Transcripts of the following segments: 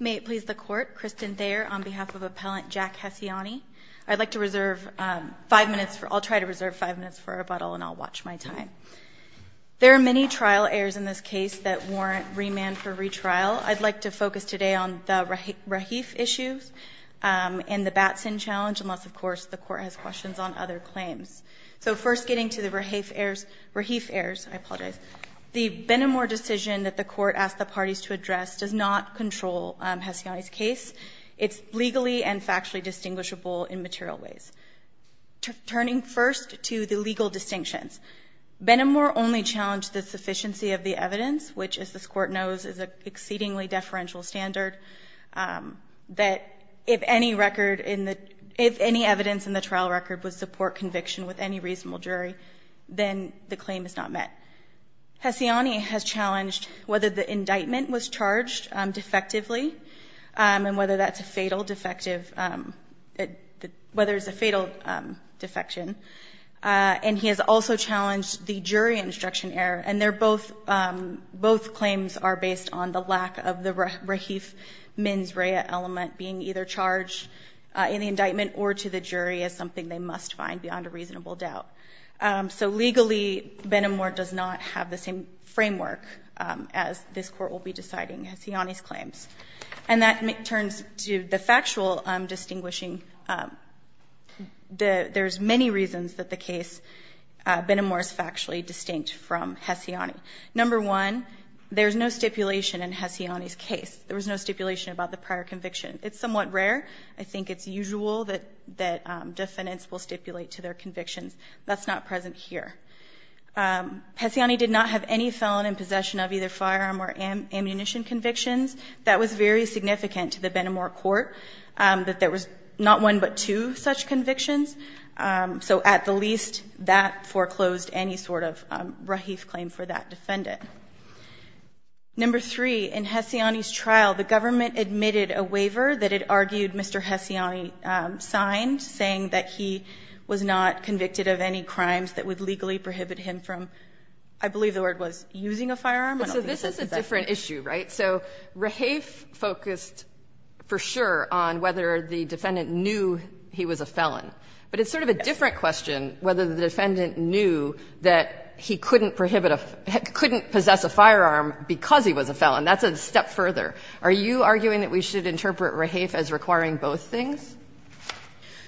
May it please the Court, Kristen Thayer on behalf of Appellant Jack Hessiani. I'd like to reserve five minutes, I'll try to reserve five minutes for rebuttal and I'll watch my time. There are many trial errors in this case that warrant remand for retrial. I'd like to focus today on the Rahif issues and the Batson challenge, unless of course the Court has questions on other claims. So first getting to the Rahif errors, Rahif errors, I apologize. The Benamor decision that the Court asked the parties to address does not control Hessiani's case. It's legally and factually distinguishable in material ways. Turning first to the legal distinctions, Benamor only challenged the sufficiency of the evidence, which as this Court knows is an exceedingly deferential standard, that if any record in the, if any evidence in the trial record would support conviction with any reasonable jury, then the claim is not met. Hessiani has challenged whether the indictment was charged defectively and whether that's a fatal defective, whether it's a fatal defection. And he has also challenged the jury instruction error. And they're both, both claims are based on the lack of the Rahif mens rea element being either charged in the indictment or to the jury as something they must find beyond a reasonable doubt. So legally, Benamor does not have the same framework as this Court will be deciding Hessiani's claims. And that turns to the factual distinguishing. There's many reasons that the case, Benamor is factually distinct from Hessiani. Number one, there's no stipulation in Hessiani's case. There was no stipulation about the prior conviction. It's somewhat rare. I think it's usual that defendants will stipulate to their convictions. That's not present here. Hessiani did not have any felon in possession of either firearm or ammunition convictions. That was very significant to the Benamor Court, that there was not one but two such convictions. So at the least, that foreclosed any sort of Rahif claim for that defendant. Number three, in Hessiani's trial, the government admitted a waiver that it argued Mr. Hessiani signed, saying that he was not convicted of any crimes that would legally prohibit him from, I believe the word was using a firearm? I don't think it says that. So this is a different issue, right? So Rahif focused for sure on whether the defendant knew he was a felon. But it's sort of a different question whether the defendant knew that he couldn't prohibit a, couldn't possess a firearm because he was a felon. That's a step further. Are you arguing that we should interpret Rahif as requiring both things?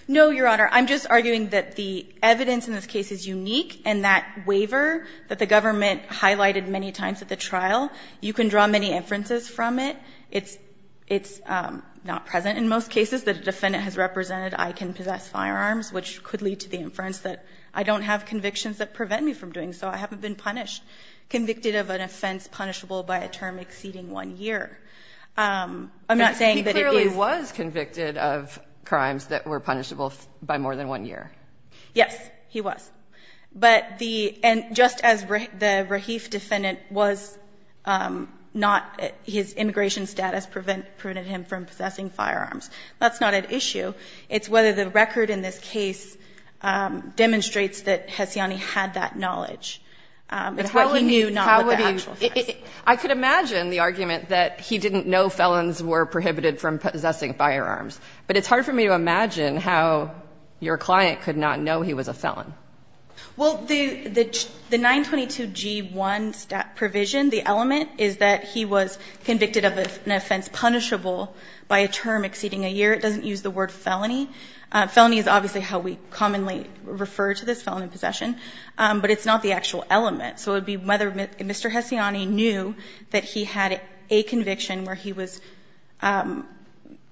No, Your Honor. I'm just arguing that the evidence in this case is unique, and that waiver that the government highlighted many times at the trial, you can draw many inferences from it. It's not present in most cases that a defendant has represented, I can possess firearms, which could lead to the inference that I don't have convictions that prevent me from doing so, I haven't been punished, convicted of an offense punishable by a term exceeding one year. I'm not saying that it is. He clearly was convicted of crimes that were punishable by more than one year. Yes, he was. But the end, just as the Rahif defendant was not, his immigration status prevented him from possessing firearms. That's not at issue. It's whether the record in this case demonstrates that Hessiani had that knowledge. It's what he knew, not what the actual facts. I could imagine the argument that he didn't know felons were prohibited from possessing firearms. But it's hard for me to imagine how your client could not know he was a felon. Well, the 922G1 provision, the element, is that he was convicted of an offense punishable by a term exceeding a year. It doesn't use the word felony. Felony is obviously how we commonly refer to this felony possession. But it's not the actual element. So it would be whether Mr. Hessiani knew that he had a conviction where he was,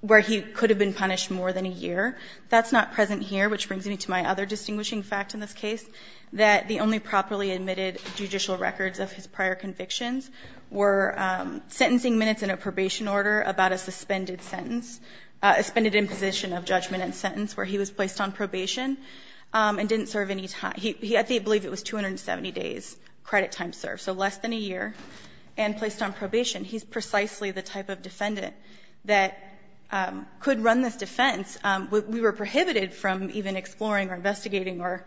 where he could have been punished more than a year. That's not present here, which brings me to my other distinguishing fact in this case, that the only properly admitted judicial records of his prior convictions were sentencing minutes in a probation order about a suspended sentence, a suspended imposition of judgment and sentence, where he was placed on probation and didn't serve any time. I believe it was 270 days credit time served, so less than a year, and placed on probation. He's precisely the type of defendant that could run this defense. We were prohibited from even exploring or investigating or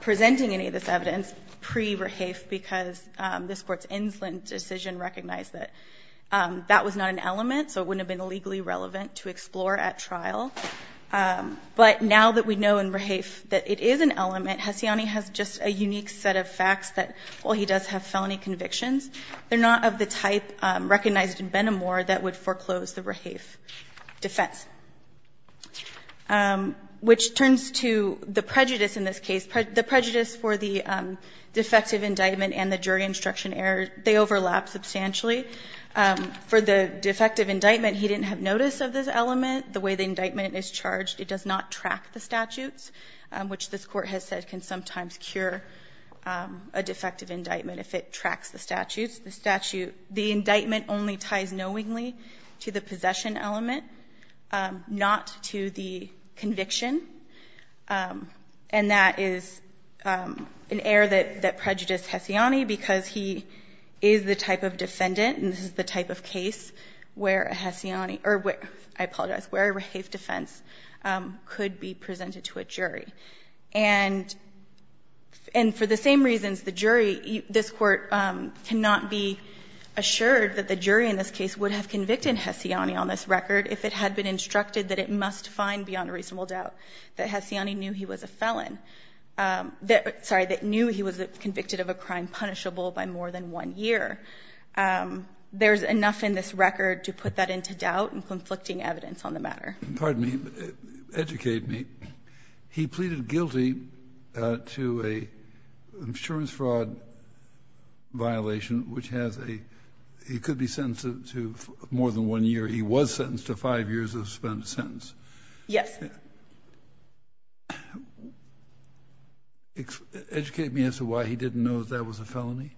presenting any of this evidence pre-Raheif, because this Court's Insland decision recognized that that was not an element, so it wouldn't have been legally relevant to explore at trial. But now that we know in Raheif that it is an element, Hessiani has just a unique set of facts that, while he does have felony convictions, they're not of the type recognized in Benamor that would foreclose the Raheif defense. Which turns to the prejudice in this case. The prejudice for the defective indictment and the jury instruction error, they overlap substantially. For the defective indictment, he didn't have notice of this element. The way the indictment is charged, it does not track the statutes, which this Court has said can sometimes cure a defective indictment if it tracks the statutes. The statute, the indictment only ties knowingly to the possession element. Not to the conviction. And that is an error that prejudiced Hessiani because he is the type of defendant and this is the type of case where a Hessiani or where, I apologize, where a Raheif defense could be presented to a jury. And for the same reasons, the jury, this Court cannot be assured that the jury in this record, if it had been instructed that it must find beyond a reasonable doubt that Hessiani knew he was a felon, that, sorry, that knew he was convicted of a crime punishable by more than one year. There's enough in this record to put that into doubt and conflicting evidence on the matter. Kennedy. Pardon me. Educate me. He pleaded guilty to an insurance fraud violation, which has a, he could be sentenced to more than one year. He was sentenced to five years of suspended sentence. Yes. Educate me as to why he didn't know that was a felony.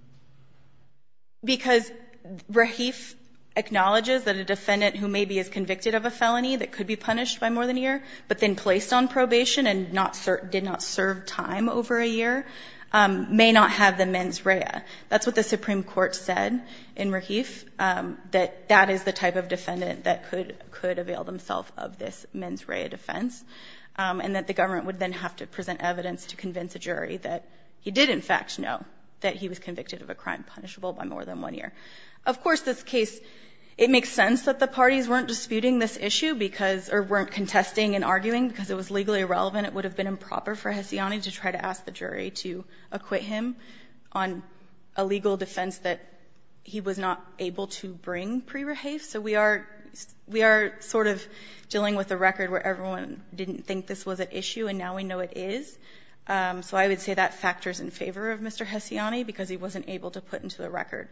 Because Raheif acknowledges that a defendant who maybe is convicted of a felony that could be punished by more than a year, but then placed on probation and not, did not serve time over a year, may not have the mens rea. That's what the Supreme Court said in Raheif. That that is the type of defendant that could avail themself of this mens rea defense and that the government would then have to present evidence to convince a jury that he did, in fact, know that he was convicted of a crime punishable by more than one year. Of course, this case, it makes sense that the parties weren't disputing this issue because, or weren't contesting and arguing because it was legally irrelevant. It would have been improper for Hessiani to try to ask the jury to acquit him on a pre-Raheif, so we are, we are sort of dealing with a record where everyone didn't think this was an issue and now we know it is. So I would say that factors in favor of Mr. Hessiani because he wasn't able to put into the record.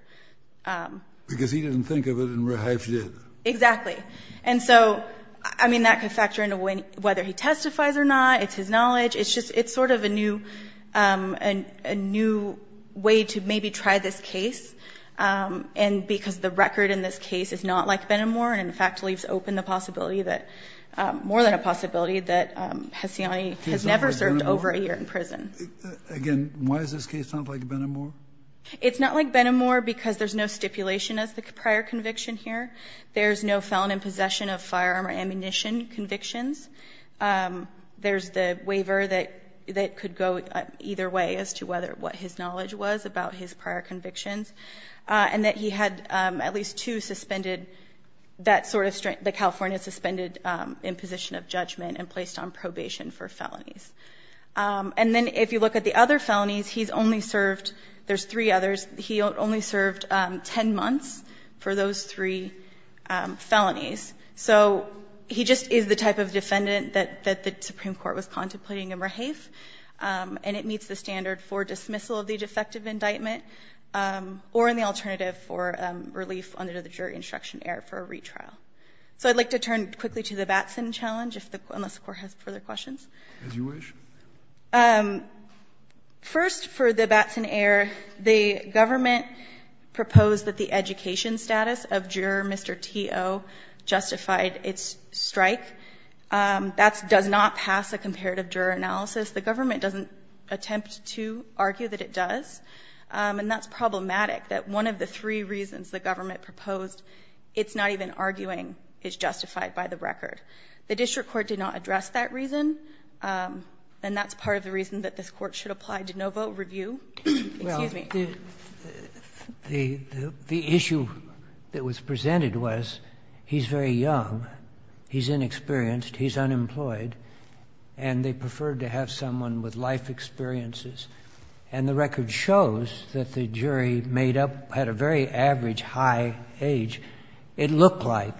Because he didn't think of it and Raheif did. Exactly. And so, I mean, that could factor into whether he testifies or not. It's his knowledge. It's just, it's sort of a new, a new way to maybe try this case. And because the record in this case is not like Benamor and, in fact, leaves open the possibility that, more than a possibility, that Hessiani has never served over a year in prison. Again, why is this case not like Benamor? It's not like Benamor because there's no stipulation as the prior conviction here. There's no felon in possession of firearm or ammunition convictions. There's the waiver that could go either way as to whether, what his knowledge was about his prior convictions. And that he had at least two suspended, that sort of, the California suspended in position of judgment and placed on probation for felonies. And then if you look at the other felonies, he's only served, there's three others, he only served ten months for those three felonies. So he just is the type of defendant that the Supreme Court was contemplating in Raheif. And it meets the standard for dismissal of the defective indictment. Or in the alternative for relief under the jury instruction error for a retrial. So I'd like to turn quickly to the Batson challenge, unless the Court has further questions. Scalia. As you wish. First, for the Batson error, the government proposed that the education status of juror Mr. T.O. justified its strike. That does not pass a comparative juror analysis. The government doesn't attempt to argue that it does. And that's problematic, that one of the three reasons the government proposed it's not even arguing is justified by the record. The district court did not address that reason. And that's part of the reason that this Court should apply de novo review. Excuse me. The issue that was presented was he's very young, he's inexperienced, he's unemployed, and they preferred to have someone with life experiences. And the record shows that the jury made up, had a very average high age. It looked like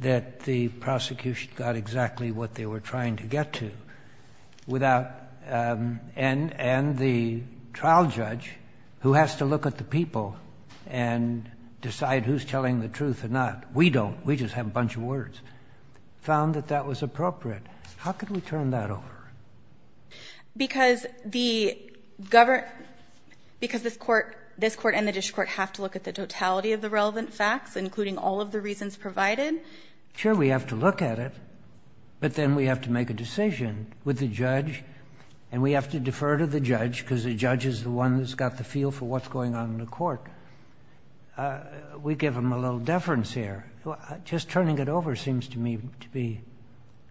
that the prosecution got exactly what they were trying to get to. Without, and the trial judge who has to look at the people and decide who's telling the truth or not, we don't, we just have a bunch of words, found that that was inappropriate. How could we turn that over? Because the government, because this Court and the district court have to look at the totality of the relevant facts, including all of the reasons provided. Sure, we have to look at it. But then we have to make a decision with the judge. And we have to defer to the judge because the judge is the one who's got the feel for what's going on in the court. We give them a little deference here. Just turning it over seems to me to be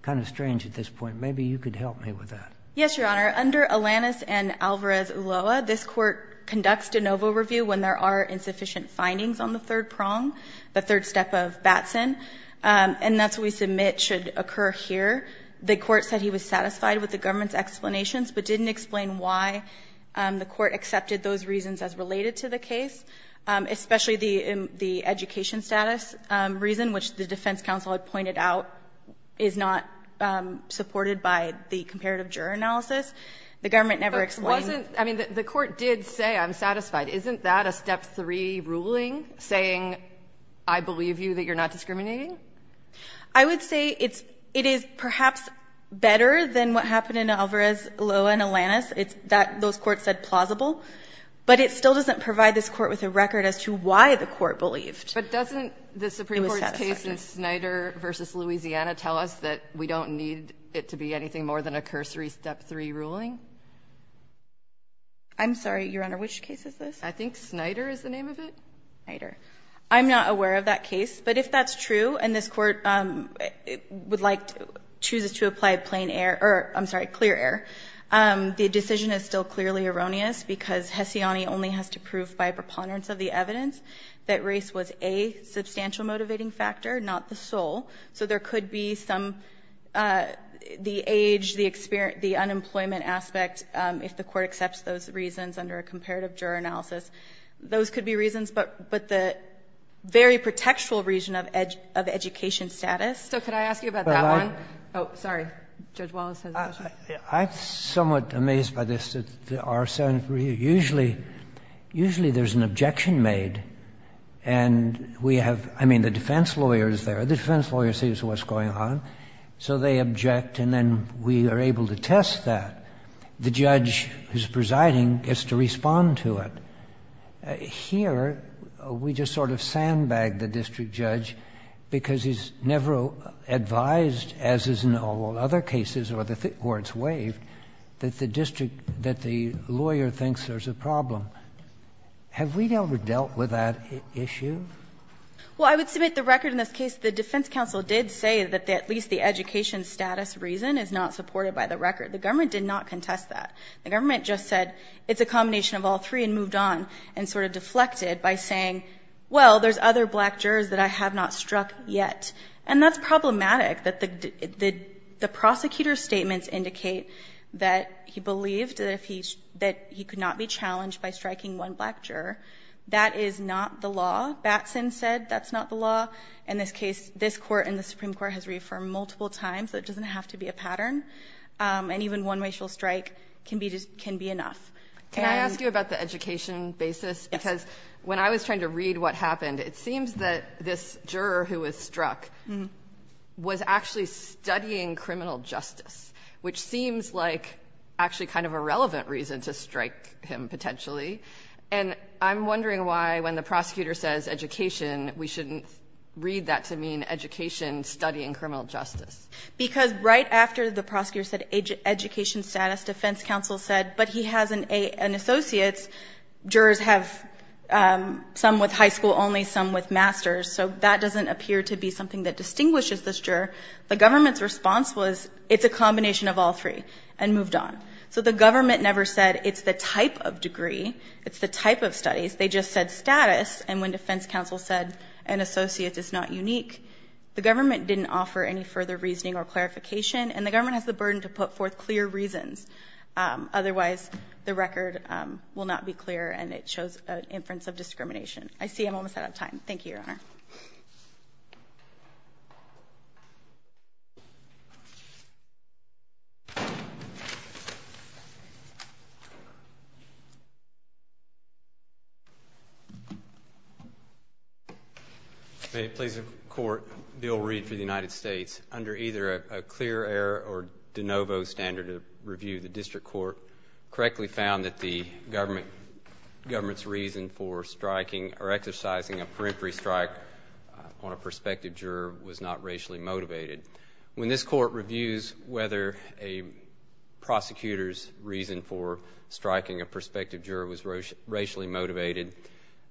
kind of strange at this point. Maybe you could help me with that. Yes, Your Honor. Under Alanis and Alvarez-Ulloa, this Court conducts de novo review when there are insufficient findings on the third prong, the third step of Batson. And that's what we submit should occur here. The Court said he was satisfied with the government's explanations but didn't explain why the Court accepted those reasons as related to the case, especially the education status reason, which the defense counsel had pointed out is not supported by the comparative juror analysis. The government never explained. But wasn't, I mean, the Court did say, I'm satisfied. Isn't that a step three ruling saying, I believe you, that you're not discriminating? I would say it's, it is perhaps better than what happened in Alvarez-Ulloa and Alanis. It's that those courts said plausible. But it still doesn't provide this Court with a record as to why the Court believed. But doesn't the Supreme Court's case in Snyder v. Louisiana tell us that we don't need it to be anything more than a cursory step three ruling? I'm sorry, Your Honor. Which case is this? I think Snyder is the name of it. Snyder. I'm not aware of that case. But if that's true and this Court would like to choose to apply a plain error or, I'm sorry, clear error, the decision is still clearly erroneous because Hessiani only has to prove by preponderance of the evidence that race was a substantial motivating factor, not the sole. So there could be some, the age, the unemployment aspect, if the Court accepts those reasons under a comparative juror analysis. Those could be reasons. But the very pretextual reason of education status. So could I ask you about that one? Oh, sorry. Judge Wallace has a question. I'm somewhat amazed by this. Usually there's an objection made. And we have, I mean, the defense lawyer is there. The defense lawyer sees what's going on. So they object. And then we are able to test that. The judge who's presiding gets to respond to it. Here, we just sort of sandbagged the district judge because he's never advised as is in all other cases where it's waived that the district, that the lawyer thinks there's a problem. Have we ever dealt with that issue? Well, I would submit the record in this case, the defense counsel did say that at least the education status reason is not supported by the record. The government did not contest that. The government just said it's a combination of all three and moved on and sort of deflected by saying, well, there's other black jurors that I have not struck yet. And that's problematic that the prosecutor's statements indicate that he believed that if he's – that he could not be challenged by striking one black juror. That is not the law. Batson said that's not the law. In this case, this Court and the Supreme Court has reaffirmed multiple times that it doesn't have to be a pattern. And even one racial strike can be enough. And – Can I ask you about the education basis? Yes. Because when I was trying to read what happened, it seems that this juror who was struck was actually studying criminal justice, which seems like actually kind of a relevant reason to strike him potentially. And I'm wondering why when the prosecutor says education, we shouldn't read that to mean education studying criminal justice. Because right after the prosecutor said education status, defense counsel said, but he has an associate's, jurors have some with high school only, some with master's. So that doesn't appear to be something that distinguishes this juror. The government's response was it's a combination of all three and moved on. So the government never said it's the type of degree, it's the type of studies. They just said status. And when defense counsel said an associate is not unique, the government didn't offer any further reasoning or clarification. And the government has the burden to put forth clear reasons. Otherwise, the record will not be clear and it shows an inference of discrimination. I see I'm almost out of time. Thank you, Your Honor. May it please the Court, Bill Reed for the United States. Under either a clear error or de novo standard of review, the district court correctly found that the government's reason for striking or exercising a periphery strike on a prospective juror was not racially motivated. When this court reviews whether a prosecutor's reason for striking a prospective juror was racially motivated,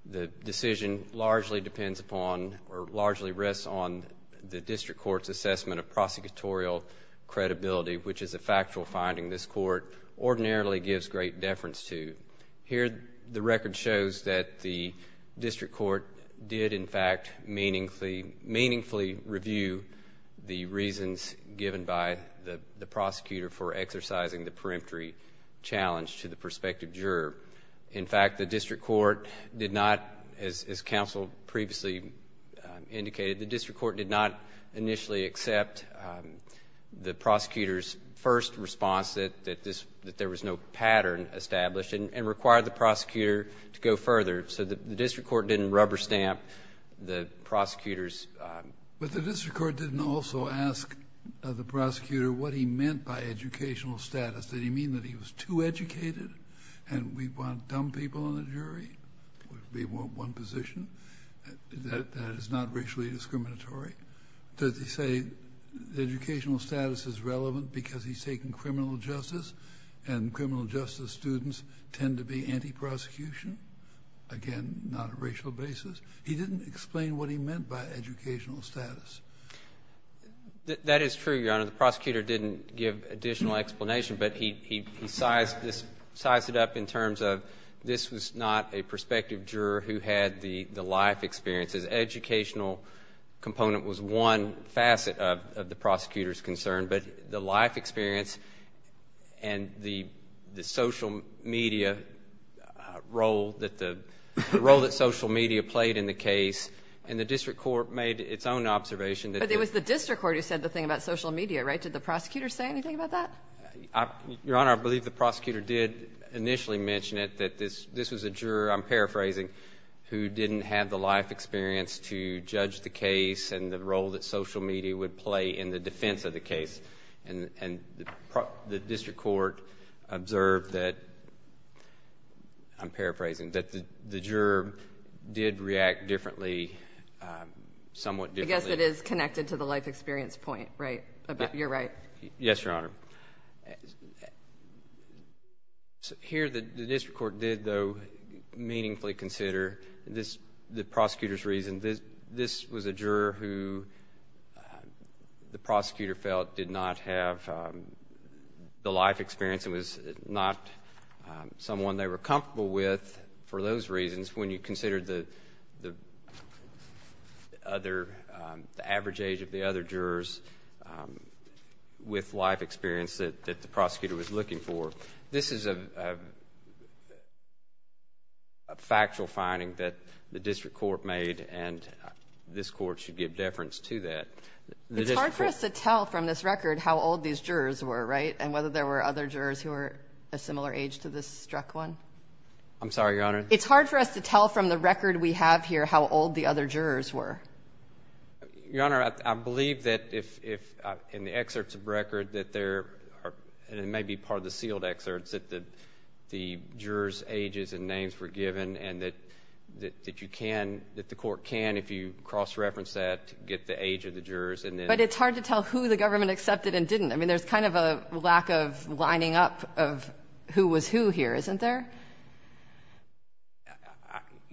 the decision largely depends upon or largely rests on the district court's assessment of prosecutorial credibility, which is a factual finding this court ordinarily gives great deference to. Here, the record shows that the district court did, in fact, meaningfully review the reasons given by the prosecutor for exercising the perimetry challenge to the prospective juror. In fact, the district court did not, as counsel previously indicated, the district court did not initially accept the prosecutor's first response that there was no pattern established and required the prosecutor to go further. So the district court didn't rubber stamp the prosecutor's… But the district court didn't also ask the prosecutor what he meant by educational status. Did he mean that he was too educated and we want dumb people in the jury? That would be one position. That is not racially discriminatory. Did he say educational status is relevant because he's taking criminal justice and criminal justice students tend to be anti-prosecution? Again, not a racial basis. He didn't explain what he meant by educational status. That is true, Your Honor. The prosecutor didn't give additional explanation, but he sized it up in terms of this was not a prospective juror who had the life experiences. Educational component was one facet of the prosecutor's concern, but the life experience and the social media role that the social media played in the case and the district court made its own observation. But it was the district court who said the thing about social media, right? Did the prosecutor say anything about that? Your Honor, I believe the prosecutor did initially mention it, that this was a juror, I'm paraphrasing, who didn't have the life experience to judge the case and the role that social media would play in the defense of the case. And the district court observed that, I'm paraphrasing, that the juror did react differently, somewhat differently. I guess it is connected to the life experience point, right? You're right. Yes, Your Honor. Here, the district court did, though, meaningfully consider the prosecutor's reason. This was a juror who the prosecutor felt did not have the life experience. It was not someone they were comfortable with for those reasons. It's when you consider the average age of the other jurors with life experience that the prosecutor was looking for. This is a factual finding that the district court made, and this court should give deference to that. It's hard for us to tell from this record how old these jurors were, right, and whether there were other jurors who were a similar age to this struck one. I'm sorry, Your Honor? It's hard for us to tell from the record we have here how old the other jurors were. Your Honor, I believe that if, in the excerpts of record, that there are, and it may be part of the sealed excerpts, that the jurors' ages and names were given, and that you can, that the court can, if you cross-reference that, get the age of the jurors. But it's hard to tell who the government accepted and didn't. I mean, there's kind of a lack of lining up of who was who here, isn't there?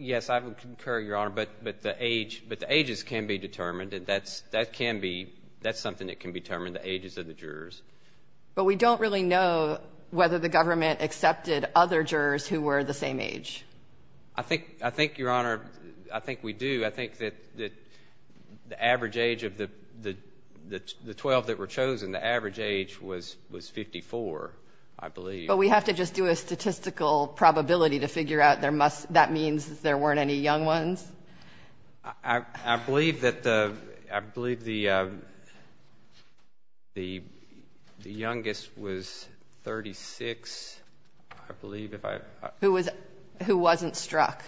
Yes, I would concur, Your Honor. But the age, but the ages can be determined, and that's, that can be, that's something that can be determined, the ages of the jurors. But we don't really know whether the government accepted other jurors who were the same age. I think, I think, Your Honor, I think we do. I think that the average age of the 12 that were chosen, the average age was 54, I believe. But we have to just do a statistical probability to figure out there must, that means there weren't any young ones? I believe that the, I believe the youngest was 36, I believe, if I. Who was, who wasn't struck?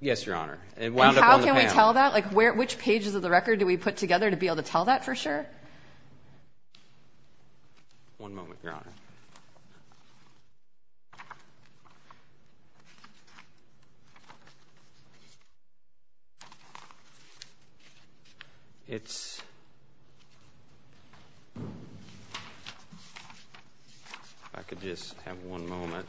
Yes, Your Honor. It wound up on the panel. And how can we tell that? Like where, which pages of the record do we put together to be able to tell that for sure? One moment, Your Honor. It's, if I could just have one moment.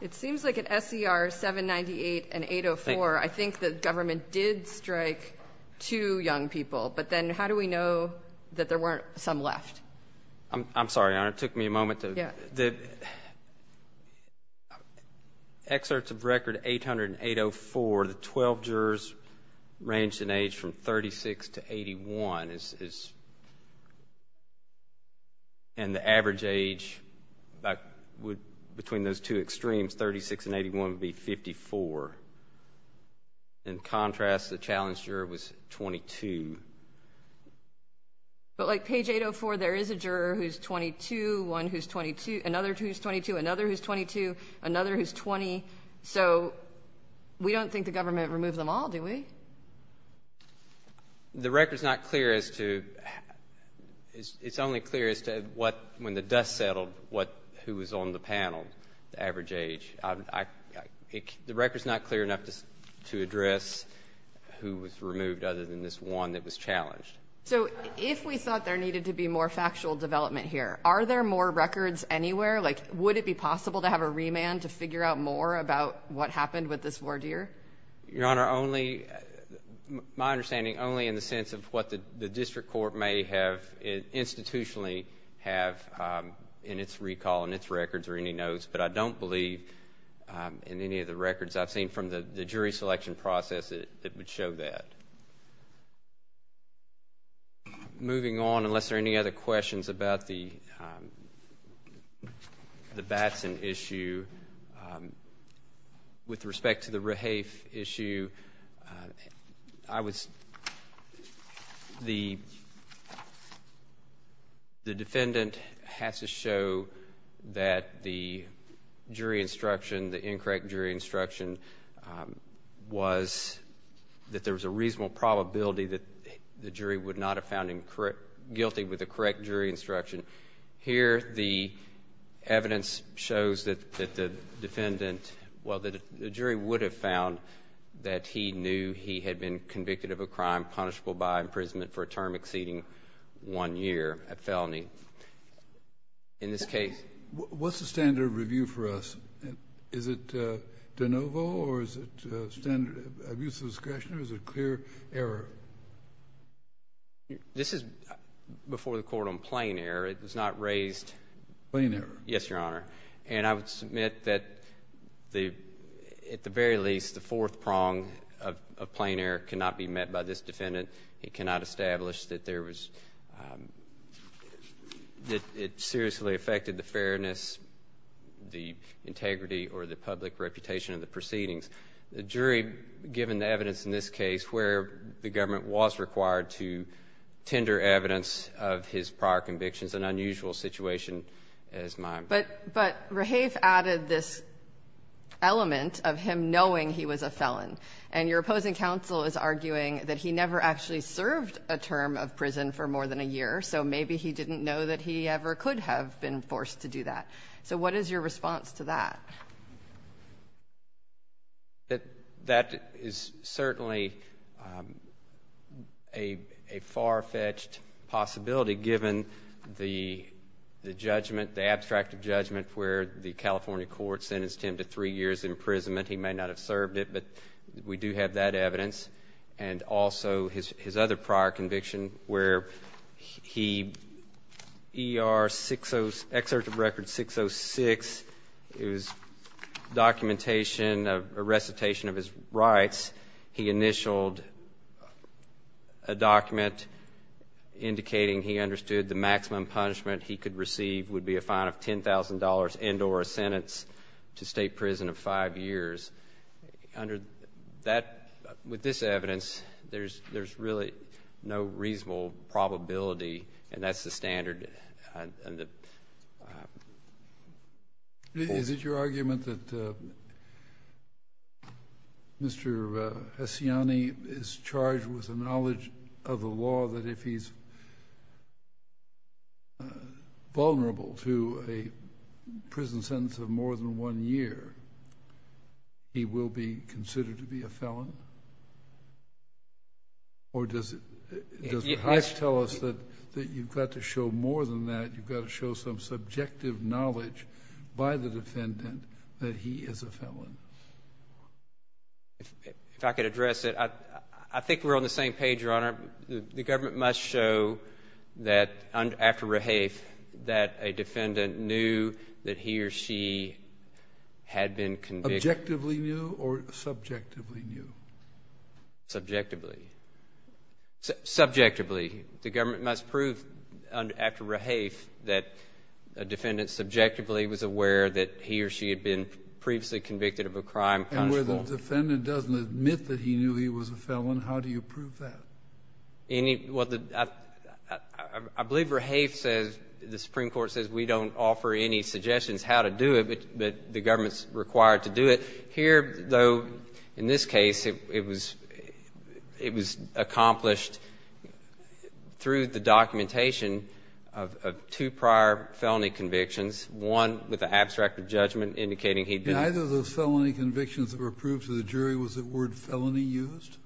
It seems like at SER 798 and 804, I think the government did strike two young people. But then how do we know that there weren't some left? I'm sorry, Your Honor. It took me a moment to. Yes. The excerpts of record 800 and 804, the 12 jurors ranged in age from 36 to 81, and the average age between those two extremes, 36 and 81, would be 54. In contrast, the challenge juror was 22. But like page 804, there is a juror who's 22, one who's 22, another who's 22, another who's 22, another who's 20. So we don't think the government removed them all, do we? The record's not clear as to, it's only clear as to what, when the dust settled, what, who was on the panel, the average age. The record's not clear enough to address who was removed other than this one that was challenged. So, if we thought there needed to be more factual development here, are there more records anywhere? Like, would it be possible to have a remand to figure out more about what happened with this voir dire? Your Honor, only, my understanding, only in the sense of what the district court may have institutionally have in its recall, in its records or any notes. But I don't believe in any of the records I've seen from the jury selection process that would show that. Moving on, unless there are any other questions about the Batson issue, with respect to the defendant has to show that the jury instruction, the incorrect jury instruction, was that there was a reasonable probability that the jury would not have found him guilty with the correct jury instruction. Here, the evidence shows that the defendant, well, the jury would have found that he knew he had been convicted of a crime punishable by imprisonment for a term exceeding one year, a felony. In this case— What's the standard of review for us? Is it de novo or is it standard abuse of discretion or is it clear error? This is before the court on plain error. It was not raised— Plain error. Yes, Your Honor. And I would submit that, at the very least, the fourth prong of plain error cannot be met by this defendant. He cannot establish that there was—that it seriously affected the fairness, the integrity, or the public reputation of the proceedings. The jury, given the evidence in this case where the government was required to tender evidence of his prior convictions, an unusual situation as mine. But Rahafe added this element of him knowing he was a felon. And your opposing counsel is arguing that he never actually served a term of prison for more than a year, so maybe he didn't know that he ever could have been forced to do that. So what is your response to that? That is certainly a far-fetched possibility, given the judgment, the abstract of judgment, where the California court sentenced him to three years' imprisonment. He may not have served it, but we do have that evidence. And also his other prior conviction where he—ER 60—excerpt of record 606. It was documentation of—a recitation of his rights. He initialed a document indicating he understood the maximum punishment he could receive would be a fine of $10,000 and or a sentence to state prison of five years. Under that—with this evidence, there's really no reasonable probability, and that's the standard. And the— Is it your argument that Mr. Hessiani is charged with a knowledge of the law that if he's vulnerable to a prison sentence of more than one year, he will be considered to be a felon? Or does Rehaith tell us that you've got to show more than that? You've got to show some subjective knowledge by the defendant that he is a felon? If I could address it, I think we're on the same page, Your Honor. The government must show that, after Rehaith, that a defendant knew that he or she had been convicted. Subjectively knew or subjectively knew? Subjectively. Subjectively. The government must prove, after Rehaith, that a defendant subjectively was aware that he or she had been previously convicted of a crime. And where the defendant doesn't admit that he knew he was a felon, how do you prove that? Well, I believe Rehaith says, the Supreme Court says we don't offer any suggestions how to do it, but the government's required to do it. Here, though, in this case, it was accomplished through the documentation of two prior felony convictions, one with an abstract of judgment indicating he'd been— And either of those felony convictions that were approved to the jury, was the word felony used?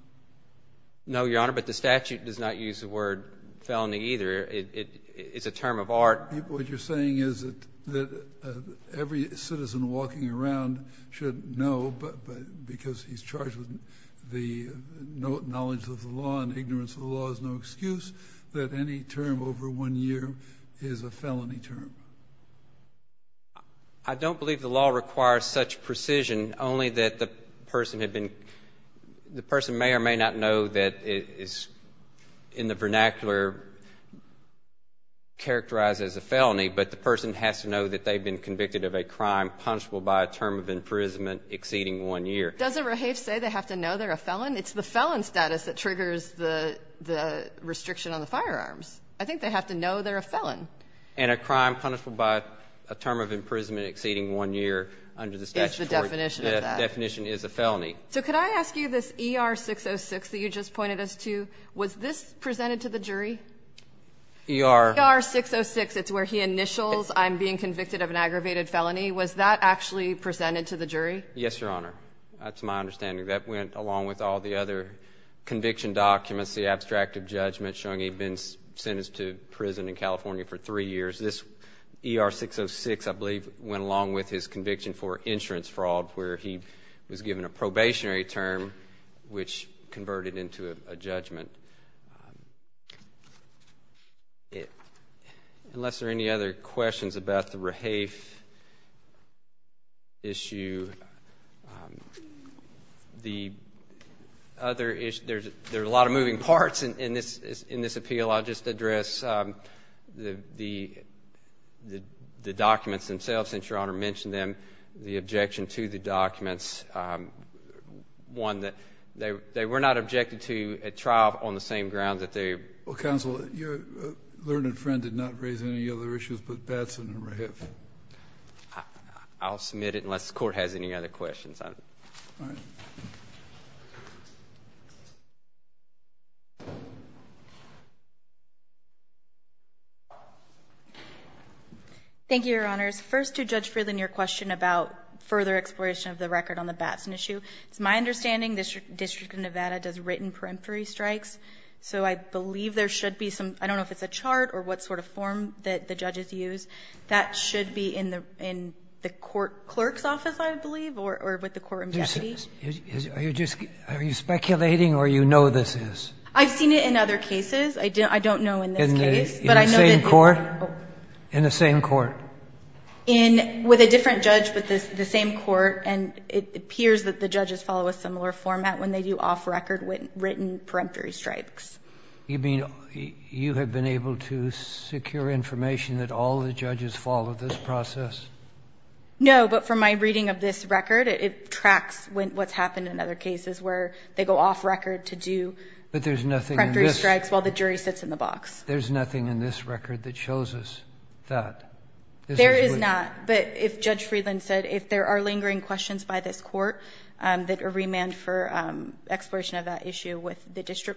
No, Your Honor, but the statute does not use the word felony either. It's a term of art. What you're saying is that every citizen walking around should know, because he's charged with the knowledge of the law and ignorance of the law, is no excuse that any term over one year is a felony term. I don't believe the law requires such precision, only that the person had been— the person may or may not know that it is, in the vernacular, characterized as a felony, but the person has to know that they've been convicted of a crime punishable by a term of imprisonment exceeding one year. Doesn't Rehaith say they have to know they're a felon? It's the felon status that triggers the restriction on the firearms. I think they have to know they're a felon. And a crime punishable by a term of imprisonment exceeding one year under the statutory— Is the definition of that. —definition is a felony. So could I ask you this ER-606 that you just pointed us to, was this presented to the jury? ER— ER-606. It's where he initials, I'm being convicted of an aggravated felony. Was that actually presented to the jury? Yes, Your Honor. That's my understanding. That went along with all the other conviction documents, the abstract of judgment, showing he'd been sentenced to prison in California for three years. This ER-606, I believe, went along with his conviction for insurance fraud, where he was given a probationary term, which converted into a judgment. Unless there are any other questions about the Rehaith issue, the other issue— There are a lot of moving parts in this appeal. I'll just address the documents themselves, since Your Honor mentioned them, the objection to the documents, one that they were not objected to at trial on the same grounds that they— Well, counsel, your learned friend did not raise any other issues but Batson and Rehaith. I'll submit it unless the Court has any other questions. All right. Thank you, Your Honors. First, to Judge Friedland, your question about further exploration of the record on the Batson issue. It's my understanding the District of Nevada does written peremptory strikes, so I believe there should be some—I don't know if it's a chart or what sort of form that the judges use. That should be in the court clerk's office, I believe, or with the courtroom deputy. Are you speculating or you know this is? I've seen it in other cases. I don't know in this case. In the same court? In the same court. With a different judge, but the same court. And it appears that the judges follow a similar format when they do off-record written peremptory strikes. You mean you have been able to secure information that all the judges follow this process? No, but from my reading of this record, it tracks what's happened in other cases where they go off-record to do— But there's nothing in this— —peremptory strikes while the jury sits in the box. There's nothing in this record that shows us that. There is not. But if Judge Friedland said if there are lingering questions by this court that are in this case, then the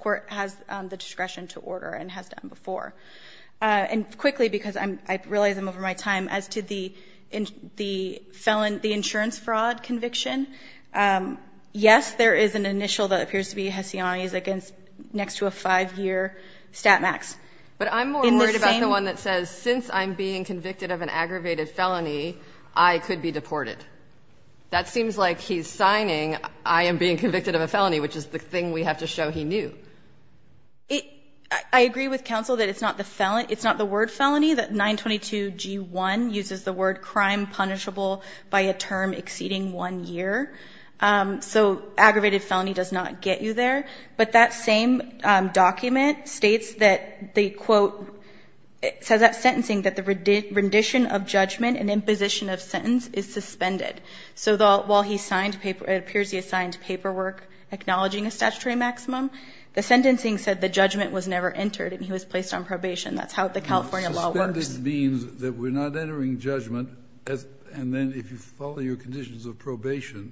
court has the discretion to order and has done before. And quickly, because I realize I'm over my time, as to the insurance fraud conviction, yes, there is an initial that appears to be Hessiani's against next to a 5-year stat max. In the same— But I'm more worried about the one that says since I'm being convicted of an aggravated felony, I could be deported. That seems like he's signing, I am being convicted of a felony, which is the thing we have to show he knew. I agree with counsel that it's not the word felony, that 922G1 uses the word crime-punishable by a term exceeding one year. So aggravated felony does not get you there. But that same document states that the, quote, it says at sentencing that the rendition of judgment and imposition of sentence is suspended. So while he's signed, it appears he has signed paperwork acknowledging a statutory maximum, the sentencing said the judgment was never entered and he was placed on probation. That's how the California law works. Suspended means that we're not entering judgment, and then if you follow your conditions of probation,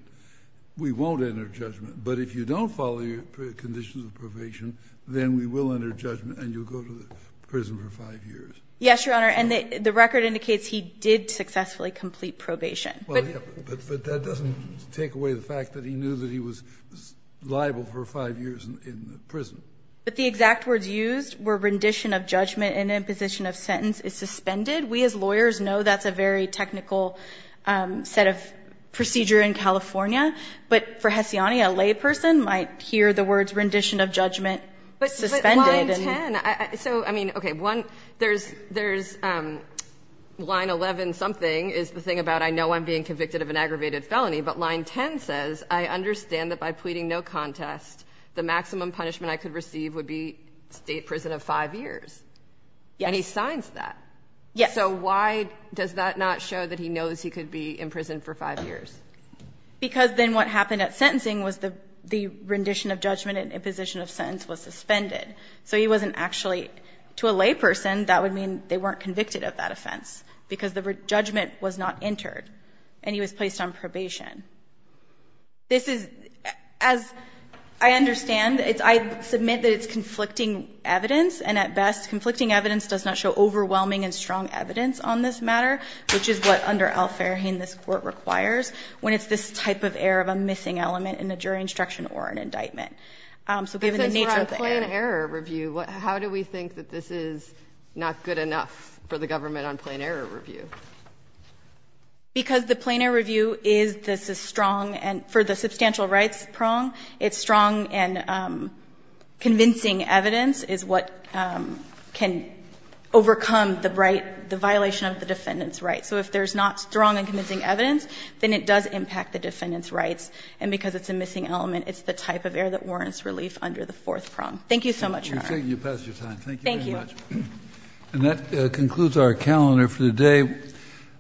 we won't enter judgment. But if you don't follow your conditions of probation, then we will enter judgment and you'll go to prison for 5 years. Yes, Your Honor. And the record indicates he did successfully complete probation. But that doesn't take away the fact that he knew that he was liable for 5 years in prison. But the exact words used were rendition of judgment and imposition of sentence is suspended. We as lawyers know that's a very technical set of procedure in California. But for Hessiani, a layperson might hear the words rendition of judgment suspended. But line 10, so I mean, okay, one, there's line 11-something is the thing about aggravated felony. But line 10 says, I understand that by pleading no contest, the maximum punishment I could receive would be state prison of 5 years. Yes. And he signs that. Yes. So why does that not show that he knows he could be in prison for 5 years? Because then what happened at sentencing was the rendition of judgment and imposition of sentence was suspended. So he wasn't actually to a layperson, that would mean they weren't convicted of that And he was placed on probation. This is, as I understand, I submit that it's conflicting evidence. And at best, conflicting evidence does not show overwhelming and strong evidence on this matter, which is what under Al-Farhain this Court requires when it's this type of error of a missing element in a jury instruction or an indictment. So given the nature of the error. But since we're on plain error review, how do we think that this is not good enough for the government on plain error review? Because the plain error review is this is strong and for the substantial rights prong, it's strong and convincing evidence is what can overcome the right, the violation of the defendant's rights. So if there's not strong and convincing evidence, then it does impact the defendant's rights. And because it's a missing element, it's the type of error that warrants relief under the fourth prong. Thank you so much, Your Honor. You've taken your best time. Thank you very much. Thank you. And that concludes our calendar for today.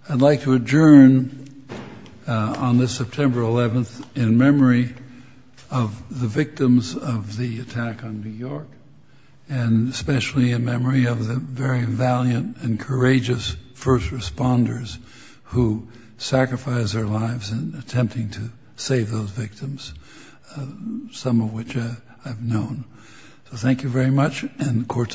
I'd like to adjourn on this September 11th in memory of the victims of the attack on New York and especially in memory of the very valiant and courageous first responders who sacrificed their lives in attempting to save those victims, some of which I've known. So thank you very much, and the court is adjourned.